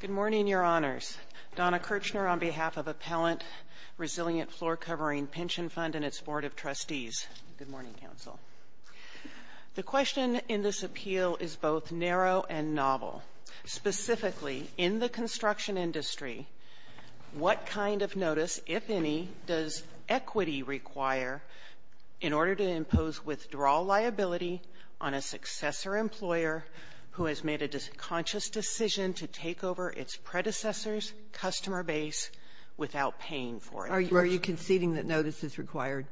Good morning, Your Honors. Donna Kirchner on behalf of Appellant Resilient Floor Covering Pension Fund and its Board of Trustees. Good morning, Counsel. The question in this appeal is both narrow and novel. Specifically, in the construction industry, what kind of notice, if any, does equity require in order to impose withdrawal liability on a successor employer who has made a conscious decision to take over its predecessor's customer base without paying for it? Are you conceding that notice is required?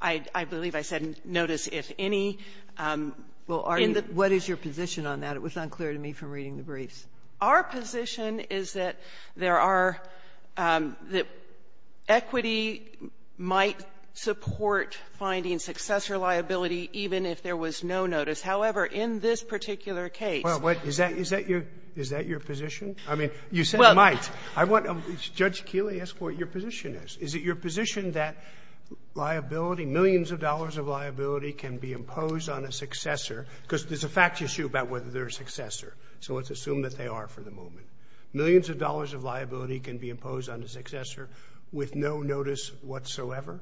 I believe I said notice, if any. Well, what is your position on that? It was unclear to me from reading the briefs. Our position is that there are the equity might support finding successor liability even if there was no notice. However, in this particular case — Well, wait. Is that your position? I mean, you said might. I want — Judge Keeley, ask what your position is. Is it your position that liability, millions of dollars of liability, can be imposed on a successor? Because there's a fact issue about whether they're a successor. So let's assume that they are for the moment. Millions of dollars of liability can be imposed on a successor with no notice whatsoever?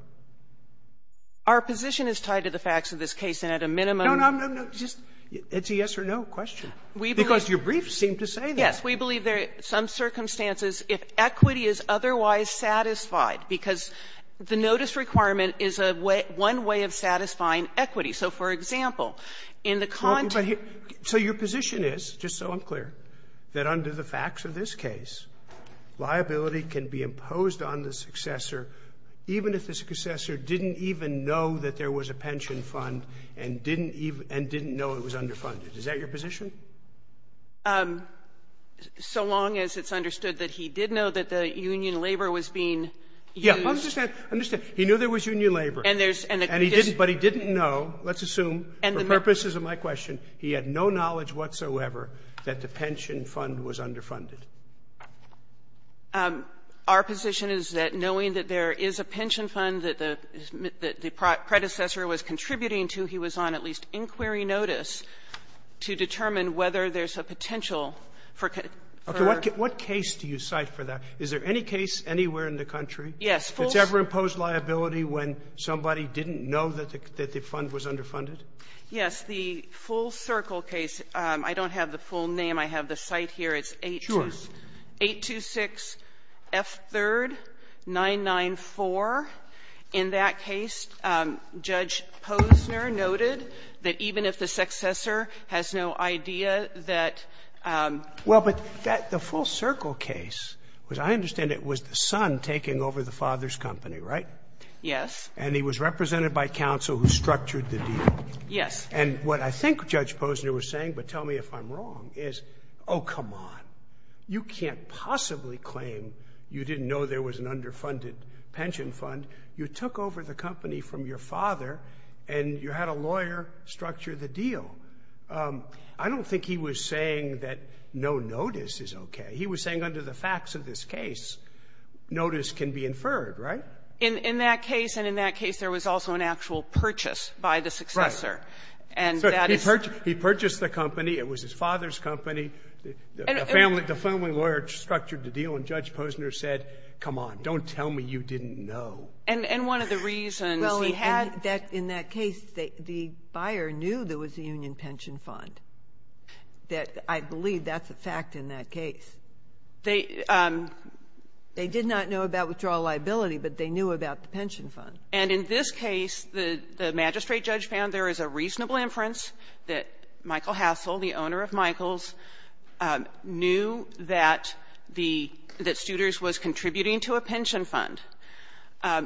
Our position is tied to the facts of this case. And at a minimum — No, no, no. It's a yes-or-no question. We believe — Because your briefs seem to say that. Yes. We believe there are some circumstances if equity is otherwise satisfied, because the notice requirement is a way — one way of satisfying equity. So, for example, in the — So your position is, just so I'm clear, that under the facts of this case, liability can be imposed on the successor even if the successor didn't even know that there was a pension fund and didn't know it was underfunded. Is that your position? So long as it's understood that he did know that the union labor was being used. Yes. I understand. I understand. He knew there was union labor. And there's — And he didn't. But he didn't know. Let's assume, for purposes of my question, he had no knowledge whatsoever that the pension fund was underfunded. Our position is that, knowing that there is a pension fund that the predecessor was contributing to, he was on at least inquiry notice to determine whether there's a potential for — What case do you cite for that? Is there any case anywhere in the country — Yes. It's ever imposed liability when somebody didn't know that the fund was underfunded? Yes. The Full Circle case, I don't have the full name. I have the cite here. It's 826F3994. In that case, Judge Posner noted that even if the successor has no idea that — Well, but the Full Circle case, as I understand it, was the son taking over the father's company, right? Yes. And he was represented by counsel who structured the deal. Yes. And what I think Judge Posner was saying, but tell me if I'm wrong, is, oh, come on. You can't possibly claim you didn't know there was an underfunded pension fund. You took over the company from your father, and you had a lawyer structure the deal. I don't think he was saying that no notice is okay. He was saying under the facts of this case, notice can be inferred, right? In that case, and in that case, there was also an actual purchase by the successor. Right. And that is — He purchased the company. It was his father's company. The family lawyer structured the deal, and Judge Posner said, come on, don't tell me you didn't know. And one of the reasons he had — Buyer knew there was a union pension fund, that — I believe that's a fact in that case. They — they did not know about withdrawal liability, but they knew about the pension fund. And in this case, the — the magistrate judge found there is a reasonable inference that Michael Hassel, the owner of Michaels, knew that the — that Studer's was contributing to a pension fund.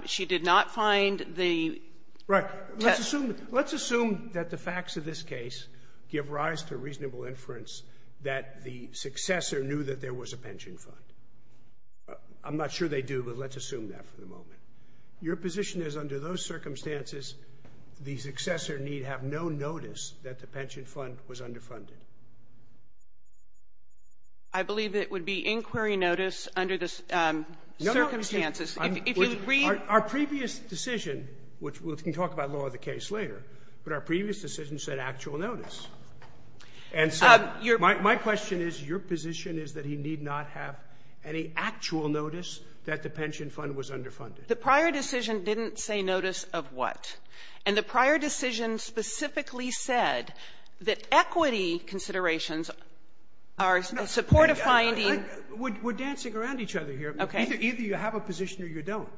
She did not find the — Right. Let's assume — let's assume that the facts of this case give rise to a reasonable inference that the successor knew that there was a pension fund. I'm not sure they do, but let's assume that for the moment. Your position is under those circumstances, the successor need have no notice that the pension fund was underfunded. I believe it would be inquiry notice under the circumstances. If you read — Our previous decision, which we can talk about a little of the case later, but our previous decision said actual notice. And so — Your — My question is, your position is that he need not have any actual notice that the pension fund was underfunded. The prior decision didn't say notice of what. And the prior decision specifically said that equity considerations are a support of finding — We're dancing around each other here. Okay. Either you have a position or you don't.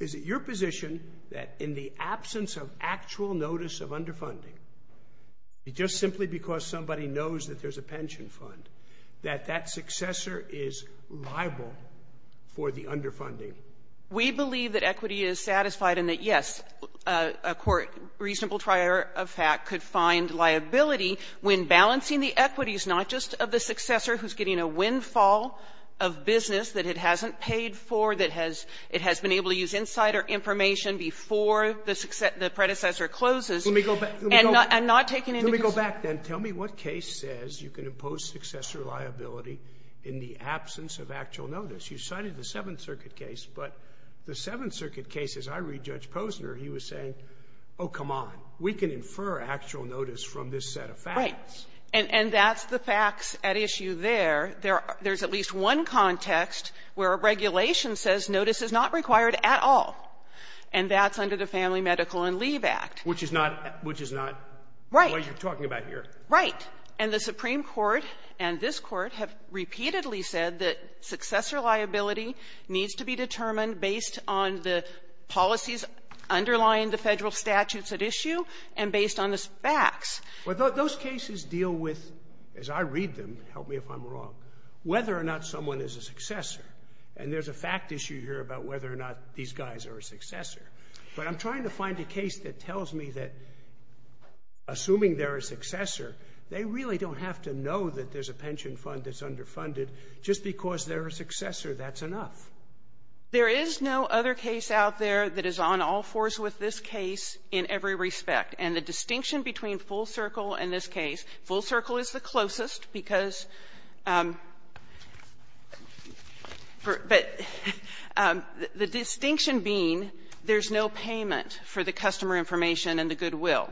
Is it your position that in the absence of actual notice of underfunding, just simply because somebody knows that there's a pension fund, that that successor is liable for the underfunding? We believe that equity is satisfied and that, yes, a court — reasonable triary of fact could find liability when balancing the equities, not just of the successor who's getting a windfall of business that it hasn't paid for, that has — it has been able to use insider information before the predecessor closes. Let me go back. And not taking into consideration — Let me go back, then. Tell me what case says you can impose successor liability in the absence of actual notice. You cited the Seventh Circuit case. But the Seventh Circuit case, as I read Judge Posner, he was saying, oh, come on. We can infer actual notice from this set of facts. Right. And that's the facts at issue there. There's at least one context where a regulation says notice is not required at all. And that's under the Family, Medical, and Leave Act. Which is not — which is not the way you're talking about here. Right. And the Supreme Court and this Court have repeatedly said that successor liability needs to be determined based on the policies underlying the Federal statutes at issue and based on the facts. Well, those cases deal with, as I read them, help me if I'm wrong, whether or not someone is a successor. And there's a fact issue here about whether or not these guys are a successor. But I'm trying to find a case that tells me that, assuming they're a successor, they really don't have to know that there's a pension fund that's underfunded just because they're a successor, that's enough. There is no other case out there that is on all fours with this case in every respect. And the distinction between Full Circle and this case, Full Circle is the closest because — but the distinction being there's no payment for the customer information and the goodwill.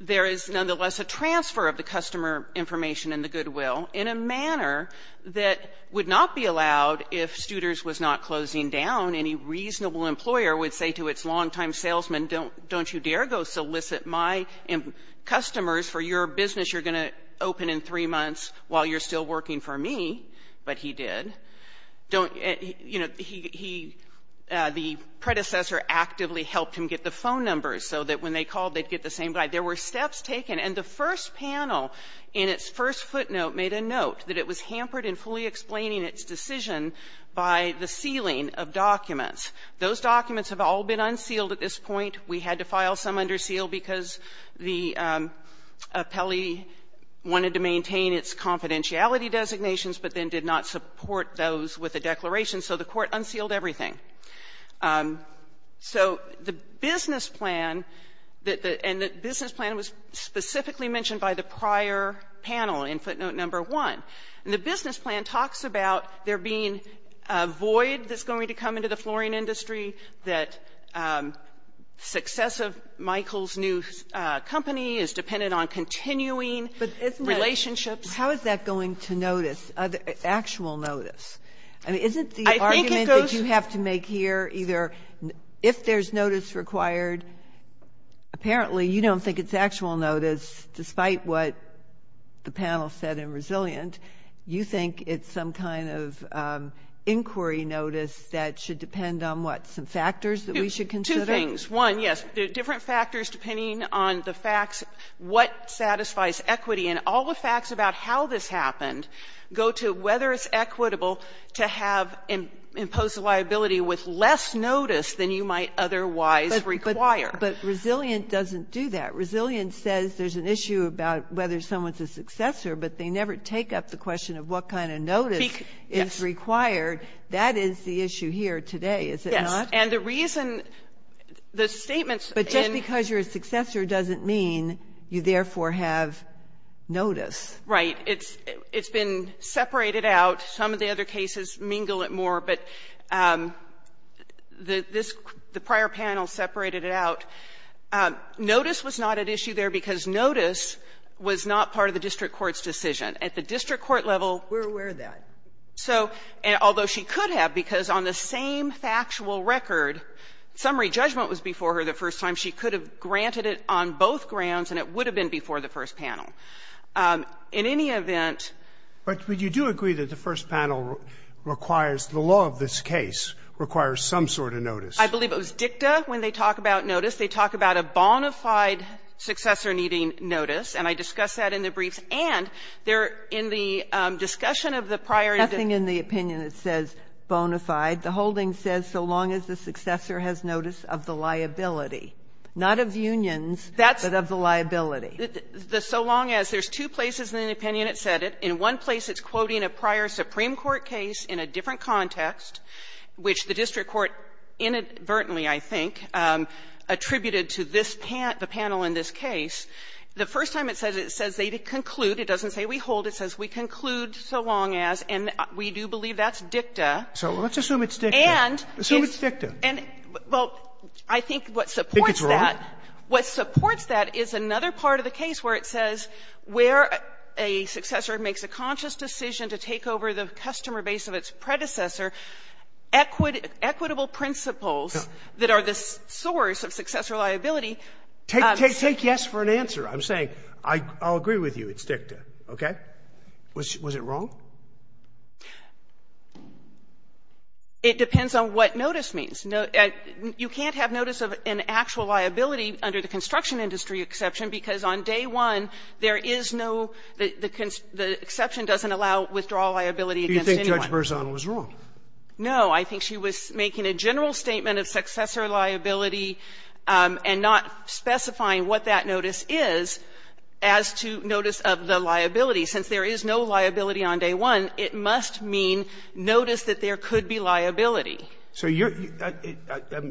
There is nonetheless a transfer of the customer information and the goodwill in a manner that would not be allowed if Studer's was not closing down. Any reasonable employer would say to its longtime salesman, don't you dare go solicit my customers for your business you're going to open in three months while you're still working for me, but he did. Don't — you know, he — the predecessor actively helped him get the phone numbers so that when they called, they'd get the same guy. There were steps taken. And the first panel in its first footnote made a note that it was hampered in fully explaining its decision by the sealing of documents. Those documents have all been unsealed at this point. We had to file some under seal because the appellee wanted to maintain its confidentiality designations, but then did not support those with a declaration, so the court unsealed everything. So the business plan that the — and the business plan was specifically mentioned by the prior panel in footnote No. 1. And the business plan talks about there being a void that's going to come into the success of Michael's new company, is dependent on continuing relationships. How is that going to notice, actual notice? I mean, isn't the argument that you have to make here either if there's notice required, apparently you don't think it's actual notice, despite what the panel said in Resilient. You think it's some kind of inquiry notice that should depend on, what, some factors that we should consider? Two things. One, yes, there are different factors depending on the facts, what satisfies equity. And all the facts about how this happened go to whether it's equitable to have imposed a liability with less notice than you might otherwise require. But Resilient doesn't do that. Resilient says there's an issue about whether someone's a successor, but they never take up the question of what kind of notice is required. Yes. That is the issue here today, is it not? Yes. And the reason the statements in the But just because you're a successor doesn't mean you therefore have notice. Right. It's been separated out. Some of the other cases mingle it more, but the prior panel separated it out. Notice was not at issue there because notice was not part of the district court's decision. At the district court level, we're aware of that. So although she could have, because on the same factual record, summary judgment was before her the first time, she could have granted it on both grounds and it would have been before the first panel. In any event But would you do agree that the first panel requires, the law of this case requires some sort of notice? I believe it was dicta when they talk about notice. They talk about a bona fide successor needing notice, and I discuss that in the briefs. They're in the discussion of the prior Nothing in the opinion that says bona fide. The holding says so long as the successor has notice of the liability. Not of unions, but of the liability. That's so long as there's two places in the opinion it said it. In one place it's quoting a prior Supreme Court case in a different context, which the district court inadvertently, I think, attributed to this panel, the panel in this case. The first time it says they conclude, it doesn't say we hold, it says we conclude so long as, and we do believe that's dicta. So let's assume it's dicta. Assume it's dicta. And, well, I think what supports that, what supports that is another part of the case where it says where a successor makes a conscious decision to take over the customer base of its predecessor, equitable principles that are the source of successor liability. Take yes for an answer. I'm saying I'll agree with you, it's dicta, okay? Was it wrong? It depends on what notice means. You can't have notice of an actual liability under the construction industry exception, because on day one there is no the exception doesn't allow withdrawal liability against anyone. Do you think Judge Berzon was wrong? No. I think she was making a general statement of successor liability and not specifying what that notice is as to notice of the liability. Since there is no liability on day one, it must mean notice that there could be liability. So you're,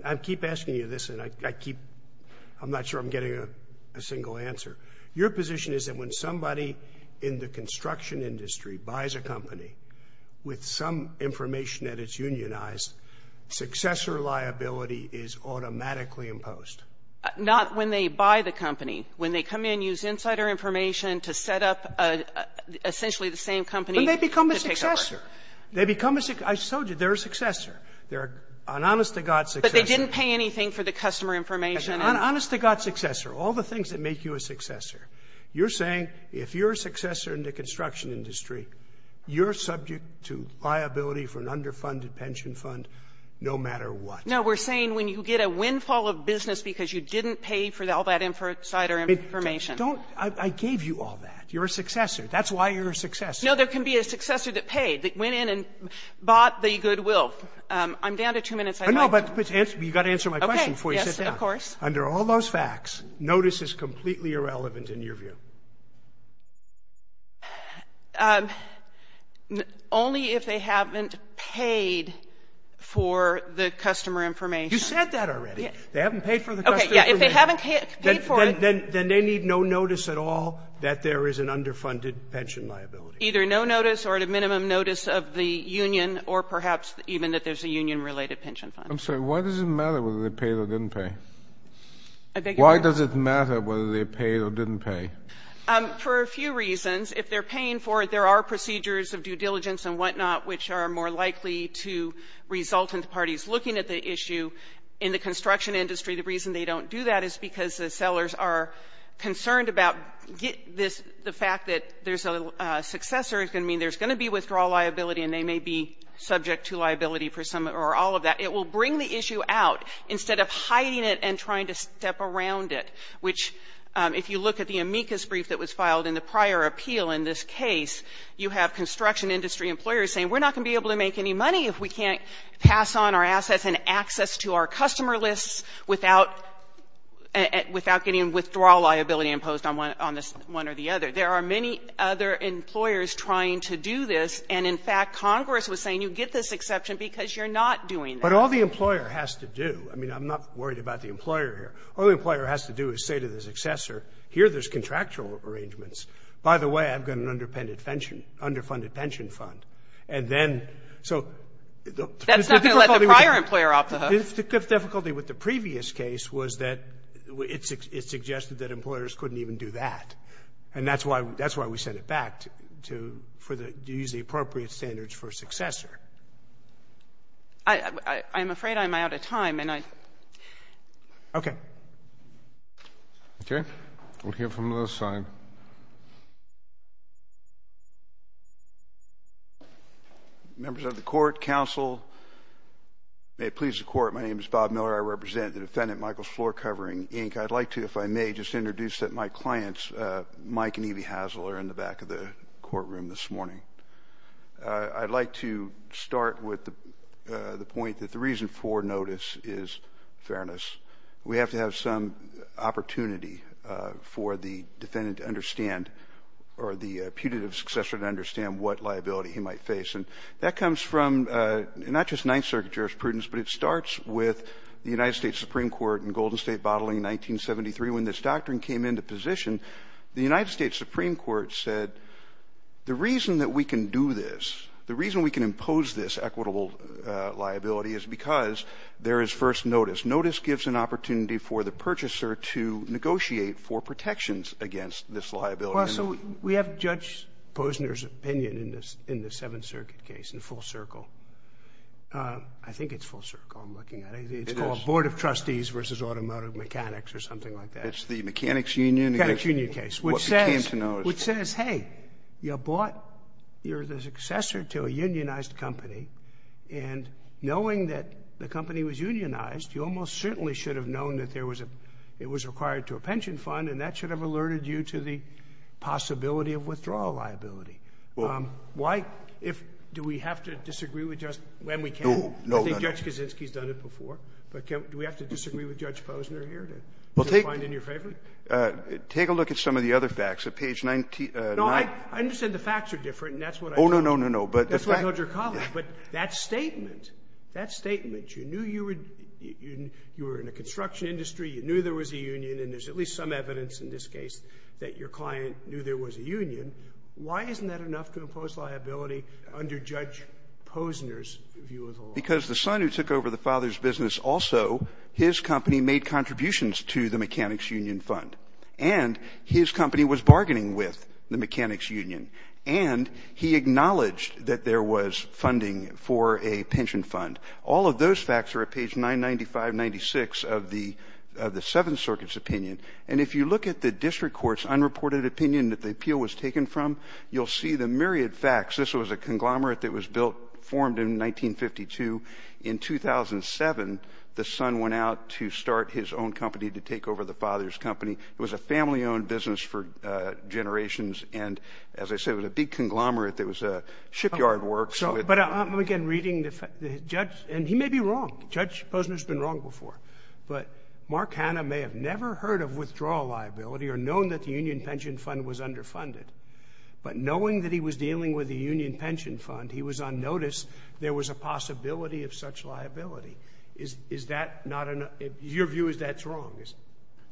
I keep asking you this and I keep, I'm not sure I'm getting a single answer. Your position is that when somebody in the construction industry buys a company with some information that is unionized, successor liability is automatically imposed. Not when they buy the company. When they come in, use insider information to set up essentially the same company to take over. But they become a successor. They become a successor. I told you they're a successor. They're an honest to God successor. But they didn't pay anything for the customer information. An honest to God successor. All the things that make you a successor. You're saying if you're a successor in the construction industry, you're subject to liability for an underfunded pension fund no matter what. No, we're saying when you get a windfall of business because you didn't pay for all that insider information. Don't, I gave you all that. You're a successor. That's why you're a successor. No, there can be a successor that paid, that went in and bought the Goodwill. I'm down to two minutes, I hope. No, but you've got to answer my question before you sit down. Yes, of course. Under all those facts, notice is completely irrelevant in your view. Only if they haven't paid for the customer information. You said that already. They haven't paid for the customer information. If they haven't paid for it. Then they need no notice at all that there is an underfunded pension liability. Either no notice or at a minimum notice of the union or perhaps even that there's a union related pension fund. I'm sorry, why does it matter whether they paid or didn't pay? I beg your pardon? Why does it matter whether they paid or didn't pay? For a few reasons. If they're paying for it, there are procedures of due diligence and whatnot which are more likely to result in parties looking at the issue. In the construction industry, the reason they don't do that is because the sellers are concerned about this, the fact that there's a successor is going to mean there's going to be withdrawal liability and they may be subject to liability for some or all of that. It will bring the issue out instead of hiding it and trying to step around it, which if you look at the amicus brief that was filed in the prior appeal in this case, you have construction industry employers saying, we're not going to be able to make any money if we can't pass on our assets and access to our customer lists without getting withdrawal liability imposed on this one or the other. There are many other employers trying to do this, and in fact, Congress was saying you get this exception because you're not doing that. But all the employer has to do, I mean, I'm not worried about the employer here. All the employer has to do is say to the successor, here, there's contractual arrangements. By the way, I've got an underfunded pension fund. And then so the difficulty with the previous case was that it suggested that employers couldn't even do that, and that's why we sent it back, to use the appropriate standards for a successor. I'm afraid I'm out of time, and I... Okay. Okay. We'll hear from the other side. Members of the court, counsel, may it please the court, my name is Bob Miller. I represent the defendant, Michael's Floor Covering, Inc. I'd like to, if I may, just introduce that my clients, Mike and Evie Hazel, are in the back of the courtroom this morning. I'd like to start with the point that the reason for notice is fairness. We have to have some opportunity for the defendant to understand, or the putative successor to understand what liability he might face. And that comes from, not just Ninth Circuit jurisprudence, but it starts with the United States Supreme Court in Golden State Bottling in 1973. When this doctrine came into position, the United States Supreme Court said, the reason that we can do this, the reason we can impose this equitable liability, is because there is first notice. Notice gives an opportunity for the purchaser to negotiate for protections against this liability. Well, so we have Judge Posner's opinion in the Seventh Circuit case, in full circle. I think it's full circle I'm looking at. It is. It's called Board of Trustees versus Automotive Mechanics, or something like that. It's the mechanics union? Mechanics union case. What became to notice? Which says, hey, you bought, you're the successor to a unionized company, and knowing that the company was unionized, you almost certainly should have known that there was a, it was required to a pension fund, and that should have alerted you to the possibility of withdrawal liability. Why, if, do we have to disagree with Judge, and we can't? No, no. I think Judge Kaczynski has done it before. But do we have to disagree with Judge Posner here to find in your favor? Take a look at some of the other facts at page 19. No, I understand the facts are different, and that's what I told you. Oh, no, no, no, no. That's what I told your colleague. But that statement, that statement, you knew you were in a construction industry, you knew there was a union, and there's at least some evidence in this case that your client knew there was a union. Why isn't that enough to impose liability under Judge Posner's view of the law? Because the son who took over the father's business also, his company made contributions to the mechanics union fund, and his company was bargaining with the mechanics union, and he acknowledged that there was funding for a pension fund. All of those facts are at page 995, 96 of the Seventh Circuit's opinion. And if you look at the district court's unreported opinion that the appeal was taken from, you'll see the myriad facts. This was a conglomerate that was built, formed in 1952. In 2007, the son went out to start his own company to take over the father's company. It was a family-owned business for generations, and as I said, it was a big conglomerate that was shipyard work. But I'm again reading the judge, and he may be wrong. Judge Posner's been wrong before. But Mark Hanna may have never heard of withdrawal liability or known that the union pension fund was underfunded, but knowing that he was dealing with the union pension fund, he was unnoticed, there was a possibility of such liability. Is that not a – your view is that's wrong, is it?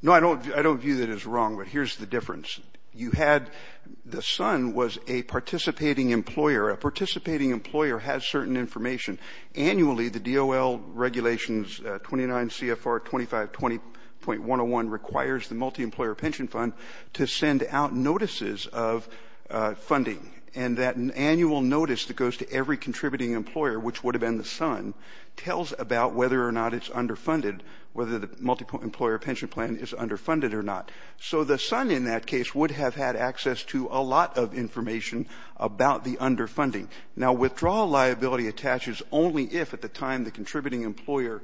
No, I don't view that as wrong, but here's the difference. You had – the son was a participating employer. A participating employer has certain information. Annually, the DOL regulations, 29 CFR 2520.101, requires the multi-employer pension fund to every contributing employer, which would have been the son, tells about whether or not it's underfunded, whether the multi-employer pension plan is underfunded or not. So the son, in that case, would have had access to a lot of information about the underfunding. Now withdrawal liability attaches only if, at the time the contributing employer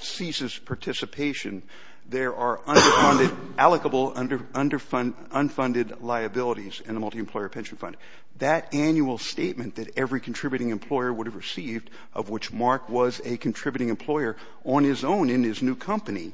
ceases participation, there are underfunded – allocable under – unfunded liabilities in a multi-employer pension fund. That annual statement that every contributing employer would have received, of which Mark was a contributing employer on his own in his new company,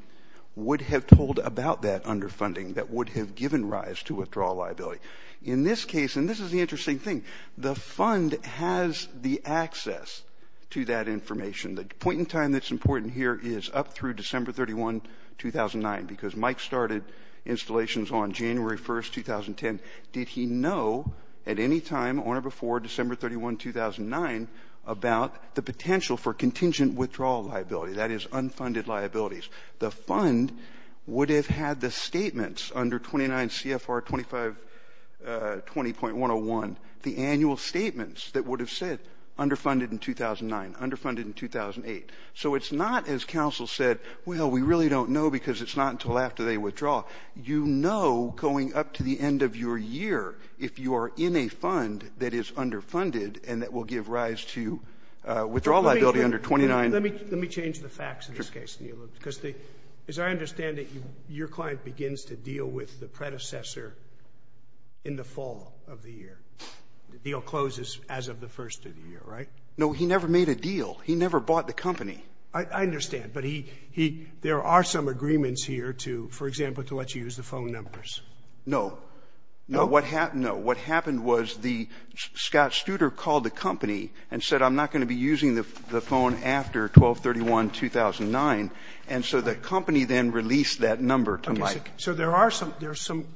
would have told about that underfunding that would have given rise to withdrawal liability. In this case, and this is the interesting thing, the fund has the access to that information. The point in time that's important here is up through December 31, 2009, because Mike started installations on January 1, 2010. Did he know at any time on or before December 31, 2009, about the potential for contingent withdrawal liability, that is, unfunded liabilities? The fund would have had the statements under 29 CFR 25 – 20.101, the annual statements that would have said underfunded in 2009, underfunded in 2008. So it's not as counsel said, well, we really don't know because it's not until after they withdraw. You know going up to the end of your year, if you are in a fund that is underfunded and that will give rise to withdrawal liability under 29 – Let me change the facts in this case, because as I understand it, your client begins to deal with the predecessor in the fall of the year. The deal closes as of the first of the year, right? No, he never made a deal. He never bought the company. I understand, but there are some agreements here to, for example, to let you use the phone numbers. No. No. What happened was Scott Studer called the company and said I'm not going to be using the phone after 12-31-2009, and so the company then released that number to Mike. So there are some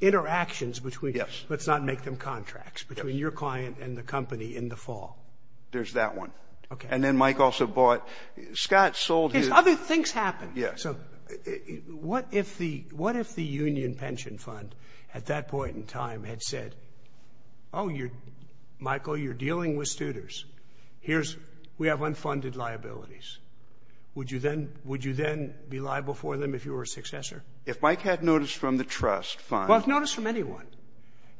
interactions between – let's not make them contracts – between your client and the company in the fall. There's that one. And then Mike also bought – Scott sold his – Other things happen. So what if the union pension fund at that point in time had said, oh, Michael, you're dealing with Studer's, here's – we have unfunded liabilities. Would you then be liable for them if you were a successor? If Mike had notice from the trust, fine. Well, notice from anyone.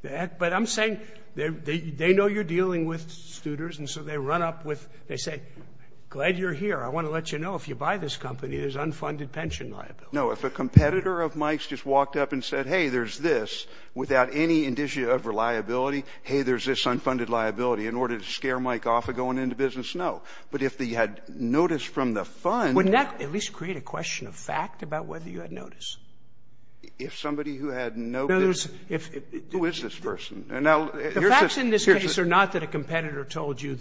But I'm saying they know you're dealing with Studer's, and so they run up with – they say glad you're here. I want to let you know if you buy this company, there's unfunded pension liability. No. If a competitor of Mike's just walked up and said, hey, there's this, without any indicia of reliability, hey, there's this unfunded liability, in order to scare Mike off of going into business, no. But if they had notice from the fund – Wouldn't that at least create a question of fact about whether you had notice? If somebody who had no – No, there's – if – Who is this person? And now – The facts in this case are not that a competitor told you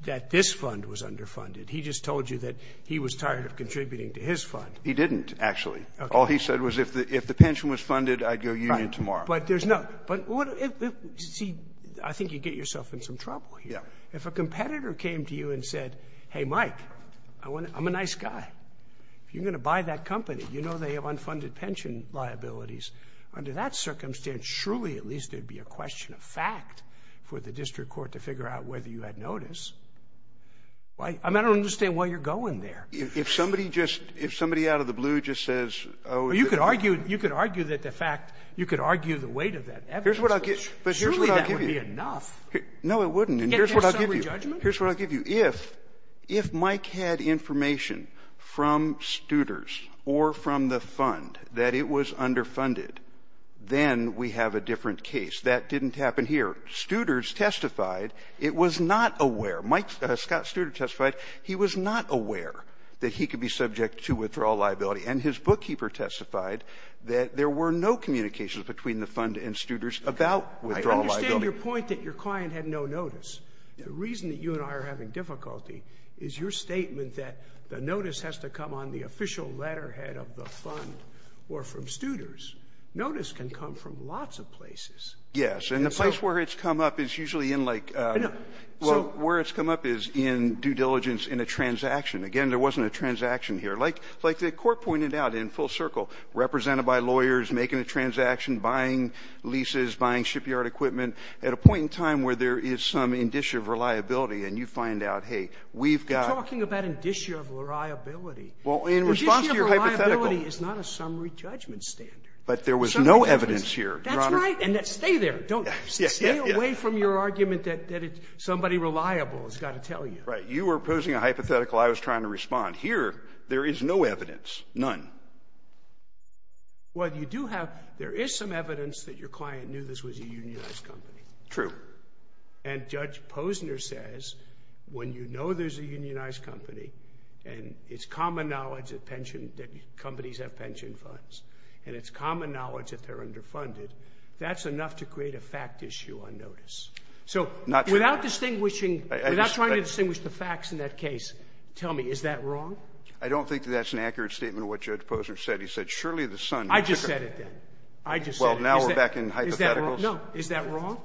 that this fund was underfunded. He just told you that he was tired of contributing to his fund. He didn't, actually. Okay. All he said was if the pension was funded, I'd go union tomorrow. Right. But there's no – but what – see, I think you get yourself in some trouble here. Yeah. If a competitor came to you and said, hey, Mike, I'm a nice guy. If you're going to buy that company, you know they have unfunded pension liabilities. Under that circumstance, truly, at least, there would be a question of fact for the district court to figure out whether you had notice. I mean, I don't understand why you're going there. If somebody just – if somebody out of the blue just says, oh – Well, you could argue – you could argue that the fact – you could argue the weight of that evidence. Here's what I'll give you. Surely that would be enough. No, it wouldn't. And here's what I'll give you. To get you some re-judgment? Here's what I'll give you. If – if Mike had information from Studer's or from the fund that it was underfunded, then we have a different case. That didn't happen here. Studer's testified it was not aware – Scott Studer testified he was not aware that he could be subject to withdrawal liability. And his bookkeeper testified that there were no communications between the fund and Studer's about withdrawal liability. I understand your point that your client had no notice. The reason that you and I are having difficulty is your statement that the notice has to come on the official letterhead of the fund or from Studer's. Notice can come from lots of places. Yes. And the place where it's come up is usually in, like – I know. So – Well, where it's come up is in due diligence in a transaction. Again, there wasn't a transaction here. Like the court pointed out in full circle, represented by lawyers making a transaction, buying leases, buying shipyard equipment, at a point in time where there is some indicia of reliability and you find out, hey, we've got – You're talking about indicia of reliability. Well, in response to your hypothetical – Indicia of reliability is not a summary judgment standard. But there was no evidence here, Your Honor. That's right. And stay there. Don't – stay away from your argument that somebody reliable has got to tell you. Right. You were posing a hypothetical. I was trying to respond. Here, there is no evidence. None. Well, you do have – there is some evidence that your client knew this was a unionized company. True. And Judge Posner says when you know there's a unionized company and it's common knowledge that pension – that companies have pension funds, and it's common knowledge that they're underfunded, that's enough to create a fact issue on notice. So without distinguishing – I just – Without trying to distinguish the facts in that case, tell me, is that wrong? I don't think that that's an accurate statement of what Judge Posner said. He said, surely the son – I just said it, then. I just said it. Well, now we're back in hypotheticals. Is that wrong? No. Is that wrong?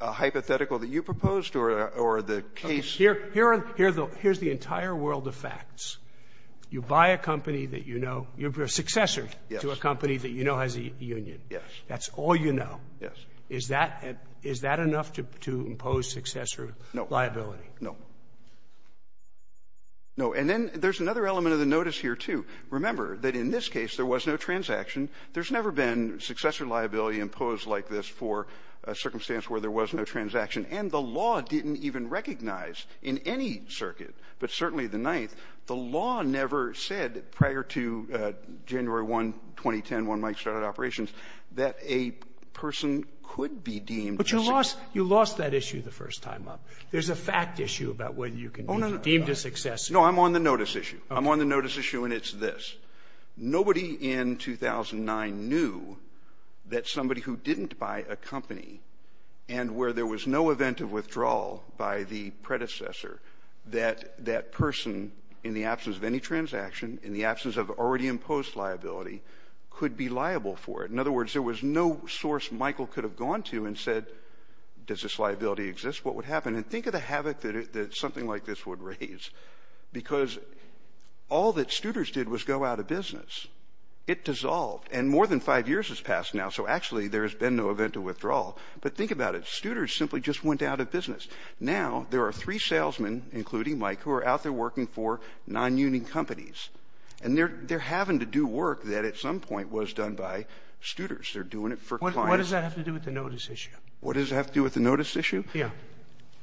A hypothetical that you proposed or the case – Okay. Here are – here's the entire world of facts. You buy a company that you know – you're a successor to a company that you know has a union. Yes. That's all you know. Yes. Is that – is that enough to impose successor liability? No. No. No. And then there's another element of the notice here, too. Remember that in this case there was no transaction. There's never been successor liability imposed like this for a circumstance where there was no transaction. And the law didn't even recognize in any circuit, but certainly the Ninth, the law never said prior to January 1, 2010, when Mike started operations, that a person could be deemed a successor. But you lost – you lost that issue the first time up. There's a fact issue about whether you can be deemed a successor. No. I'm on the notice issue. I'm on the notice issue, and it's this. Nobody in 2009 knew that somebody who didn't buy a company and where there was no event of withdrawal by the predecessor, that that person, in the absence of any transaction, in the absence of already imposed liability, could be liable for it. In other words, there was no source Michael could have gone to and said, does this liability exist? What would happen? And think of the havoc that something like this would raise. Because all that Studer's did was go out of business. It dissolved. And more than five years has passed now, so actually there has been no event of withdrawal. But think about it. Studer's simply just went out of business. Now there are three salesmen, including Mike, who are out there working for non-union companies. And they're having to do work that at some point was done by Studer's. They're doing it for clients. What does that have to do with the notice issue? What does it have to do with the notice issue? Yeah.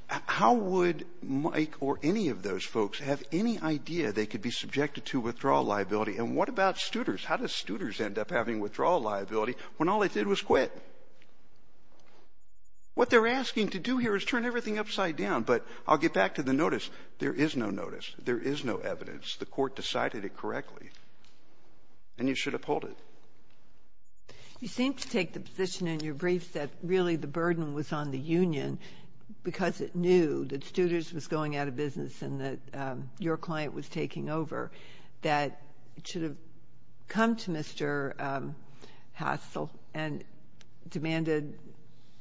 How would Mike or any of those folks have any idea they could be subjected to withdrawal liability? And what about Studer's? How does Studer's end up having withdrawal liability when all they did was quit? What they're asking to do here is turn everything upside down. But I'll get back to the notice. There is no notice. There is no evidence. The court decided it correctly. And you should uphold it. You seem to take the position in your briefs that really the burden was on the union because it knew that Studer's was going out of business and that your client was taking over that it should have come to Mr. Hassel and demanded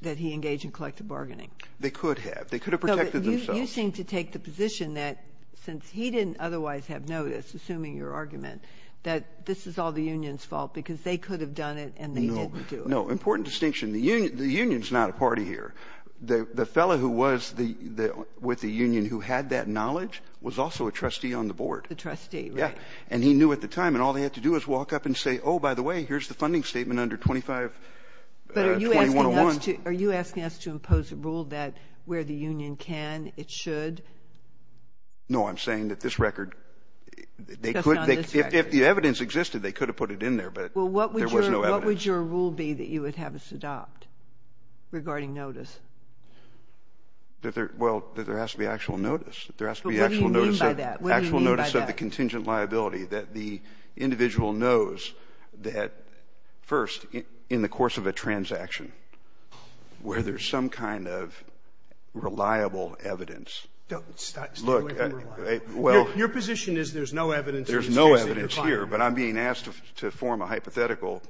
that he engage in collective bargaining. They could have. They could have protected themselves. You seem to take the position that since he didn't otherwise have notice, assuming your argument, that this is all the union's fault because they could have done it and they didn't do it. No. No. Important distinction. The union is not a party here. The fellow who was with the union who had that knowledge was also a trustee on the board. The trustee, right. Yeah. And he knew at the time, and all they had to do was walk up and say, oh, by the way, here's the funding statement under 25-2101. But are you asking us to impose a rule that where the union can, it should? No, I'm saying that this record, if the evidence existed, they could have put it in there, but there was no evidence. Well, what would your rule be that you would have us adopt regarding notice? Well, that there has to be actual notice. There has to be actual notice. What do you mean by that? Actual notice of the contingent liability that the individual knows that, first, in the course of a transaction, where there's some kind of reliable evidence. Stop. Look. Your position is there's no evidence. There's no evidence here, but I'm being asked to form a hypothetical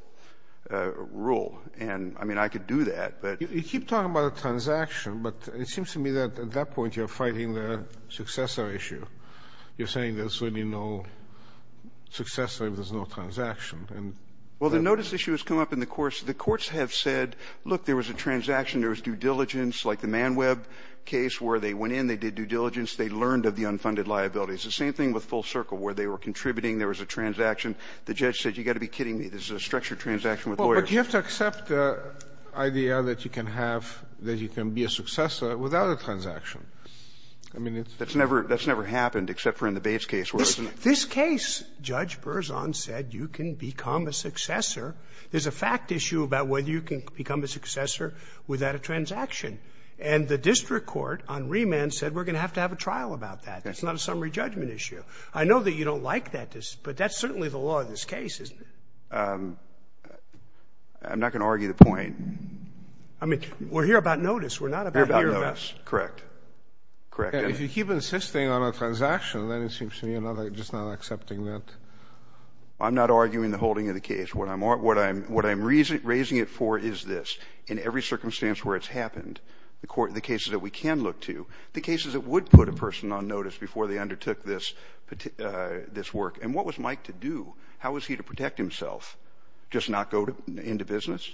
rule. And, I mean, I could do that. You keep talking about a transaction, but it seems to me that at that point you're fighting the successor issue. You're saying there's really no successor if there's no transaction. Well, the notice issue has come up in the courts. The courts have said, look, there was a transaction, there was due diligence, like the ManWeb case where they went in, they did due diligence, they learned of the unfunded liabilities. The same thing with Full Circle where they were contributing, there was a transaction. The judge said, you've got to be kidding me. This is a structured transaction with lawyers. Well, but you have to accept the idea that you can have, that you can be a successor without a transaction. I mean, it's... That's never happened except for in the Bates case where... This case, Judge Berzon said you can become a successor. There's a fact issue about whether you can become a successor without a transaction. And the district court on remand said we're going to have to have a trial about that. That's not a summary judgment issue. I know that you don't like that, but that's certainly the law of this case, isn't it? I'm not going to argue the point. I mean, we're here about notice. We're not about mere notice. Correct. Correct. If you keep insisting on a transaction, then it seems to me you're just not accepting that. I'm not arguing the holding of the case. What I'm raising it for is this. In every circumstance where it's happened, the cases that we can look to, the cases that would put a person on notice before they undertook this work. And what was Mike to do? How was he to protect himself? Just not go into business?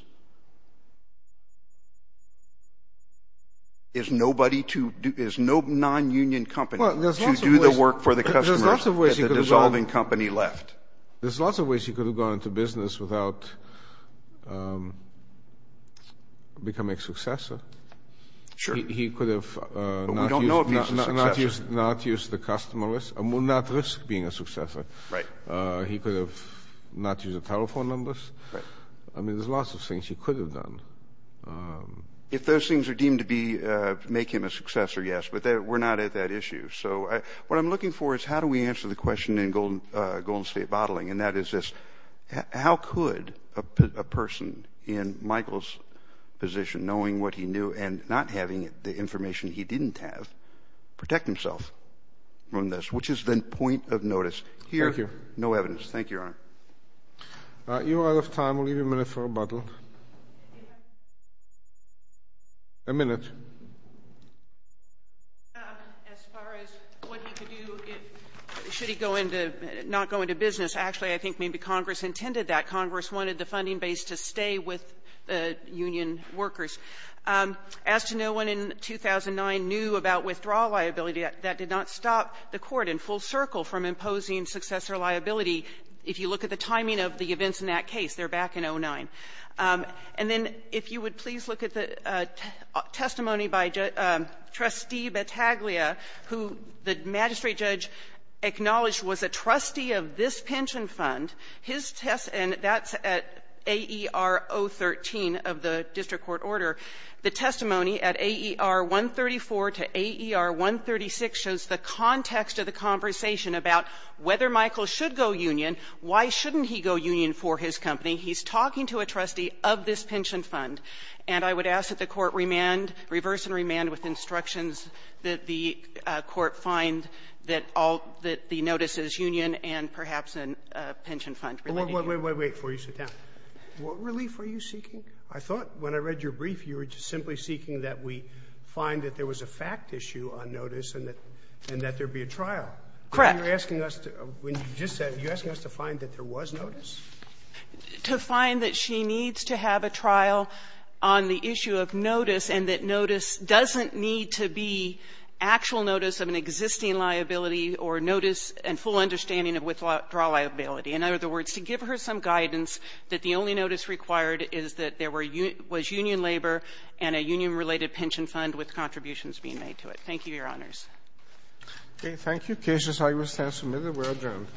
Is nobody to do ñ is no non-union company to do the work for the customers that the dissolving company left? There's lots of ways he could have gone into business without becoming a successor. Sure. He could have not used the customer risk, not risk being a successor. Right. He could have not used the telephone numbers. Right. I mean, there's lots of things he could have done. If those things are deemed to make him a successor, yes, but we're not at that issue. So what I'm looking for is how do we answer the question in Golden State Bottling, and that is this, how could a person in Michael's position, knowing what he knew and not having the information he didn't have, protect himself from this, which is then point of notice? Thank you. No evidence. Thank you, Your Honor. You are out of time. We'll give you a minute for rebuttal. A minute. As far as what he could do, should he go into ñ not go into business, actually I think maybe Congress intended that. Congress wanted the funding base to stay with the union workers. As to no one in 2009 knew about withdrawal liability, that did not stop the court in full circle from imposing successor liability. If you look at the timing of the events in that case, they're back in 2009. And then if you would please look at the testimony by Trustee Battaglia, who the magistrate judge acknowledged was a trustee of this pension fund. His test, and that's at AER 013 of the district court order. The testimony at AER 134 to AER 136 shows the context of the conversation about whether Michael should go union. Why shouldn't he go union for his company? He's talking to a trustee of this pension fund. And I would ask that the court remand, reverse and remand with instructions that the court find that all ñ that the notice is union and perhaps a pension fund. Wait, wait, wait. Before you sit down. What relief were you seeking? I thought when I read your brief you were simply seeking that we find that there was a fact issue on notice and that there be a trial. Correct. You're asking us to ñ when you just said it, you're asking us to find that there was notice? To find that she needs to have a trial on the issue of notice and that notice doesn't need to be actual notice of an existing liability or notice and full understanding of withdrawal liability. In other words, to give her some guidance that the only notice required is that there were ñ was union labor and a union-related pension fund with contributions being made to it. Thank you, Your Honors. Okay. Thank you. Cases, I will stand submitted. We're adjourned.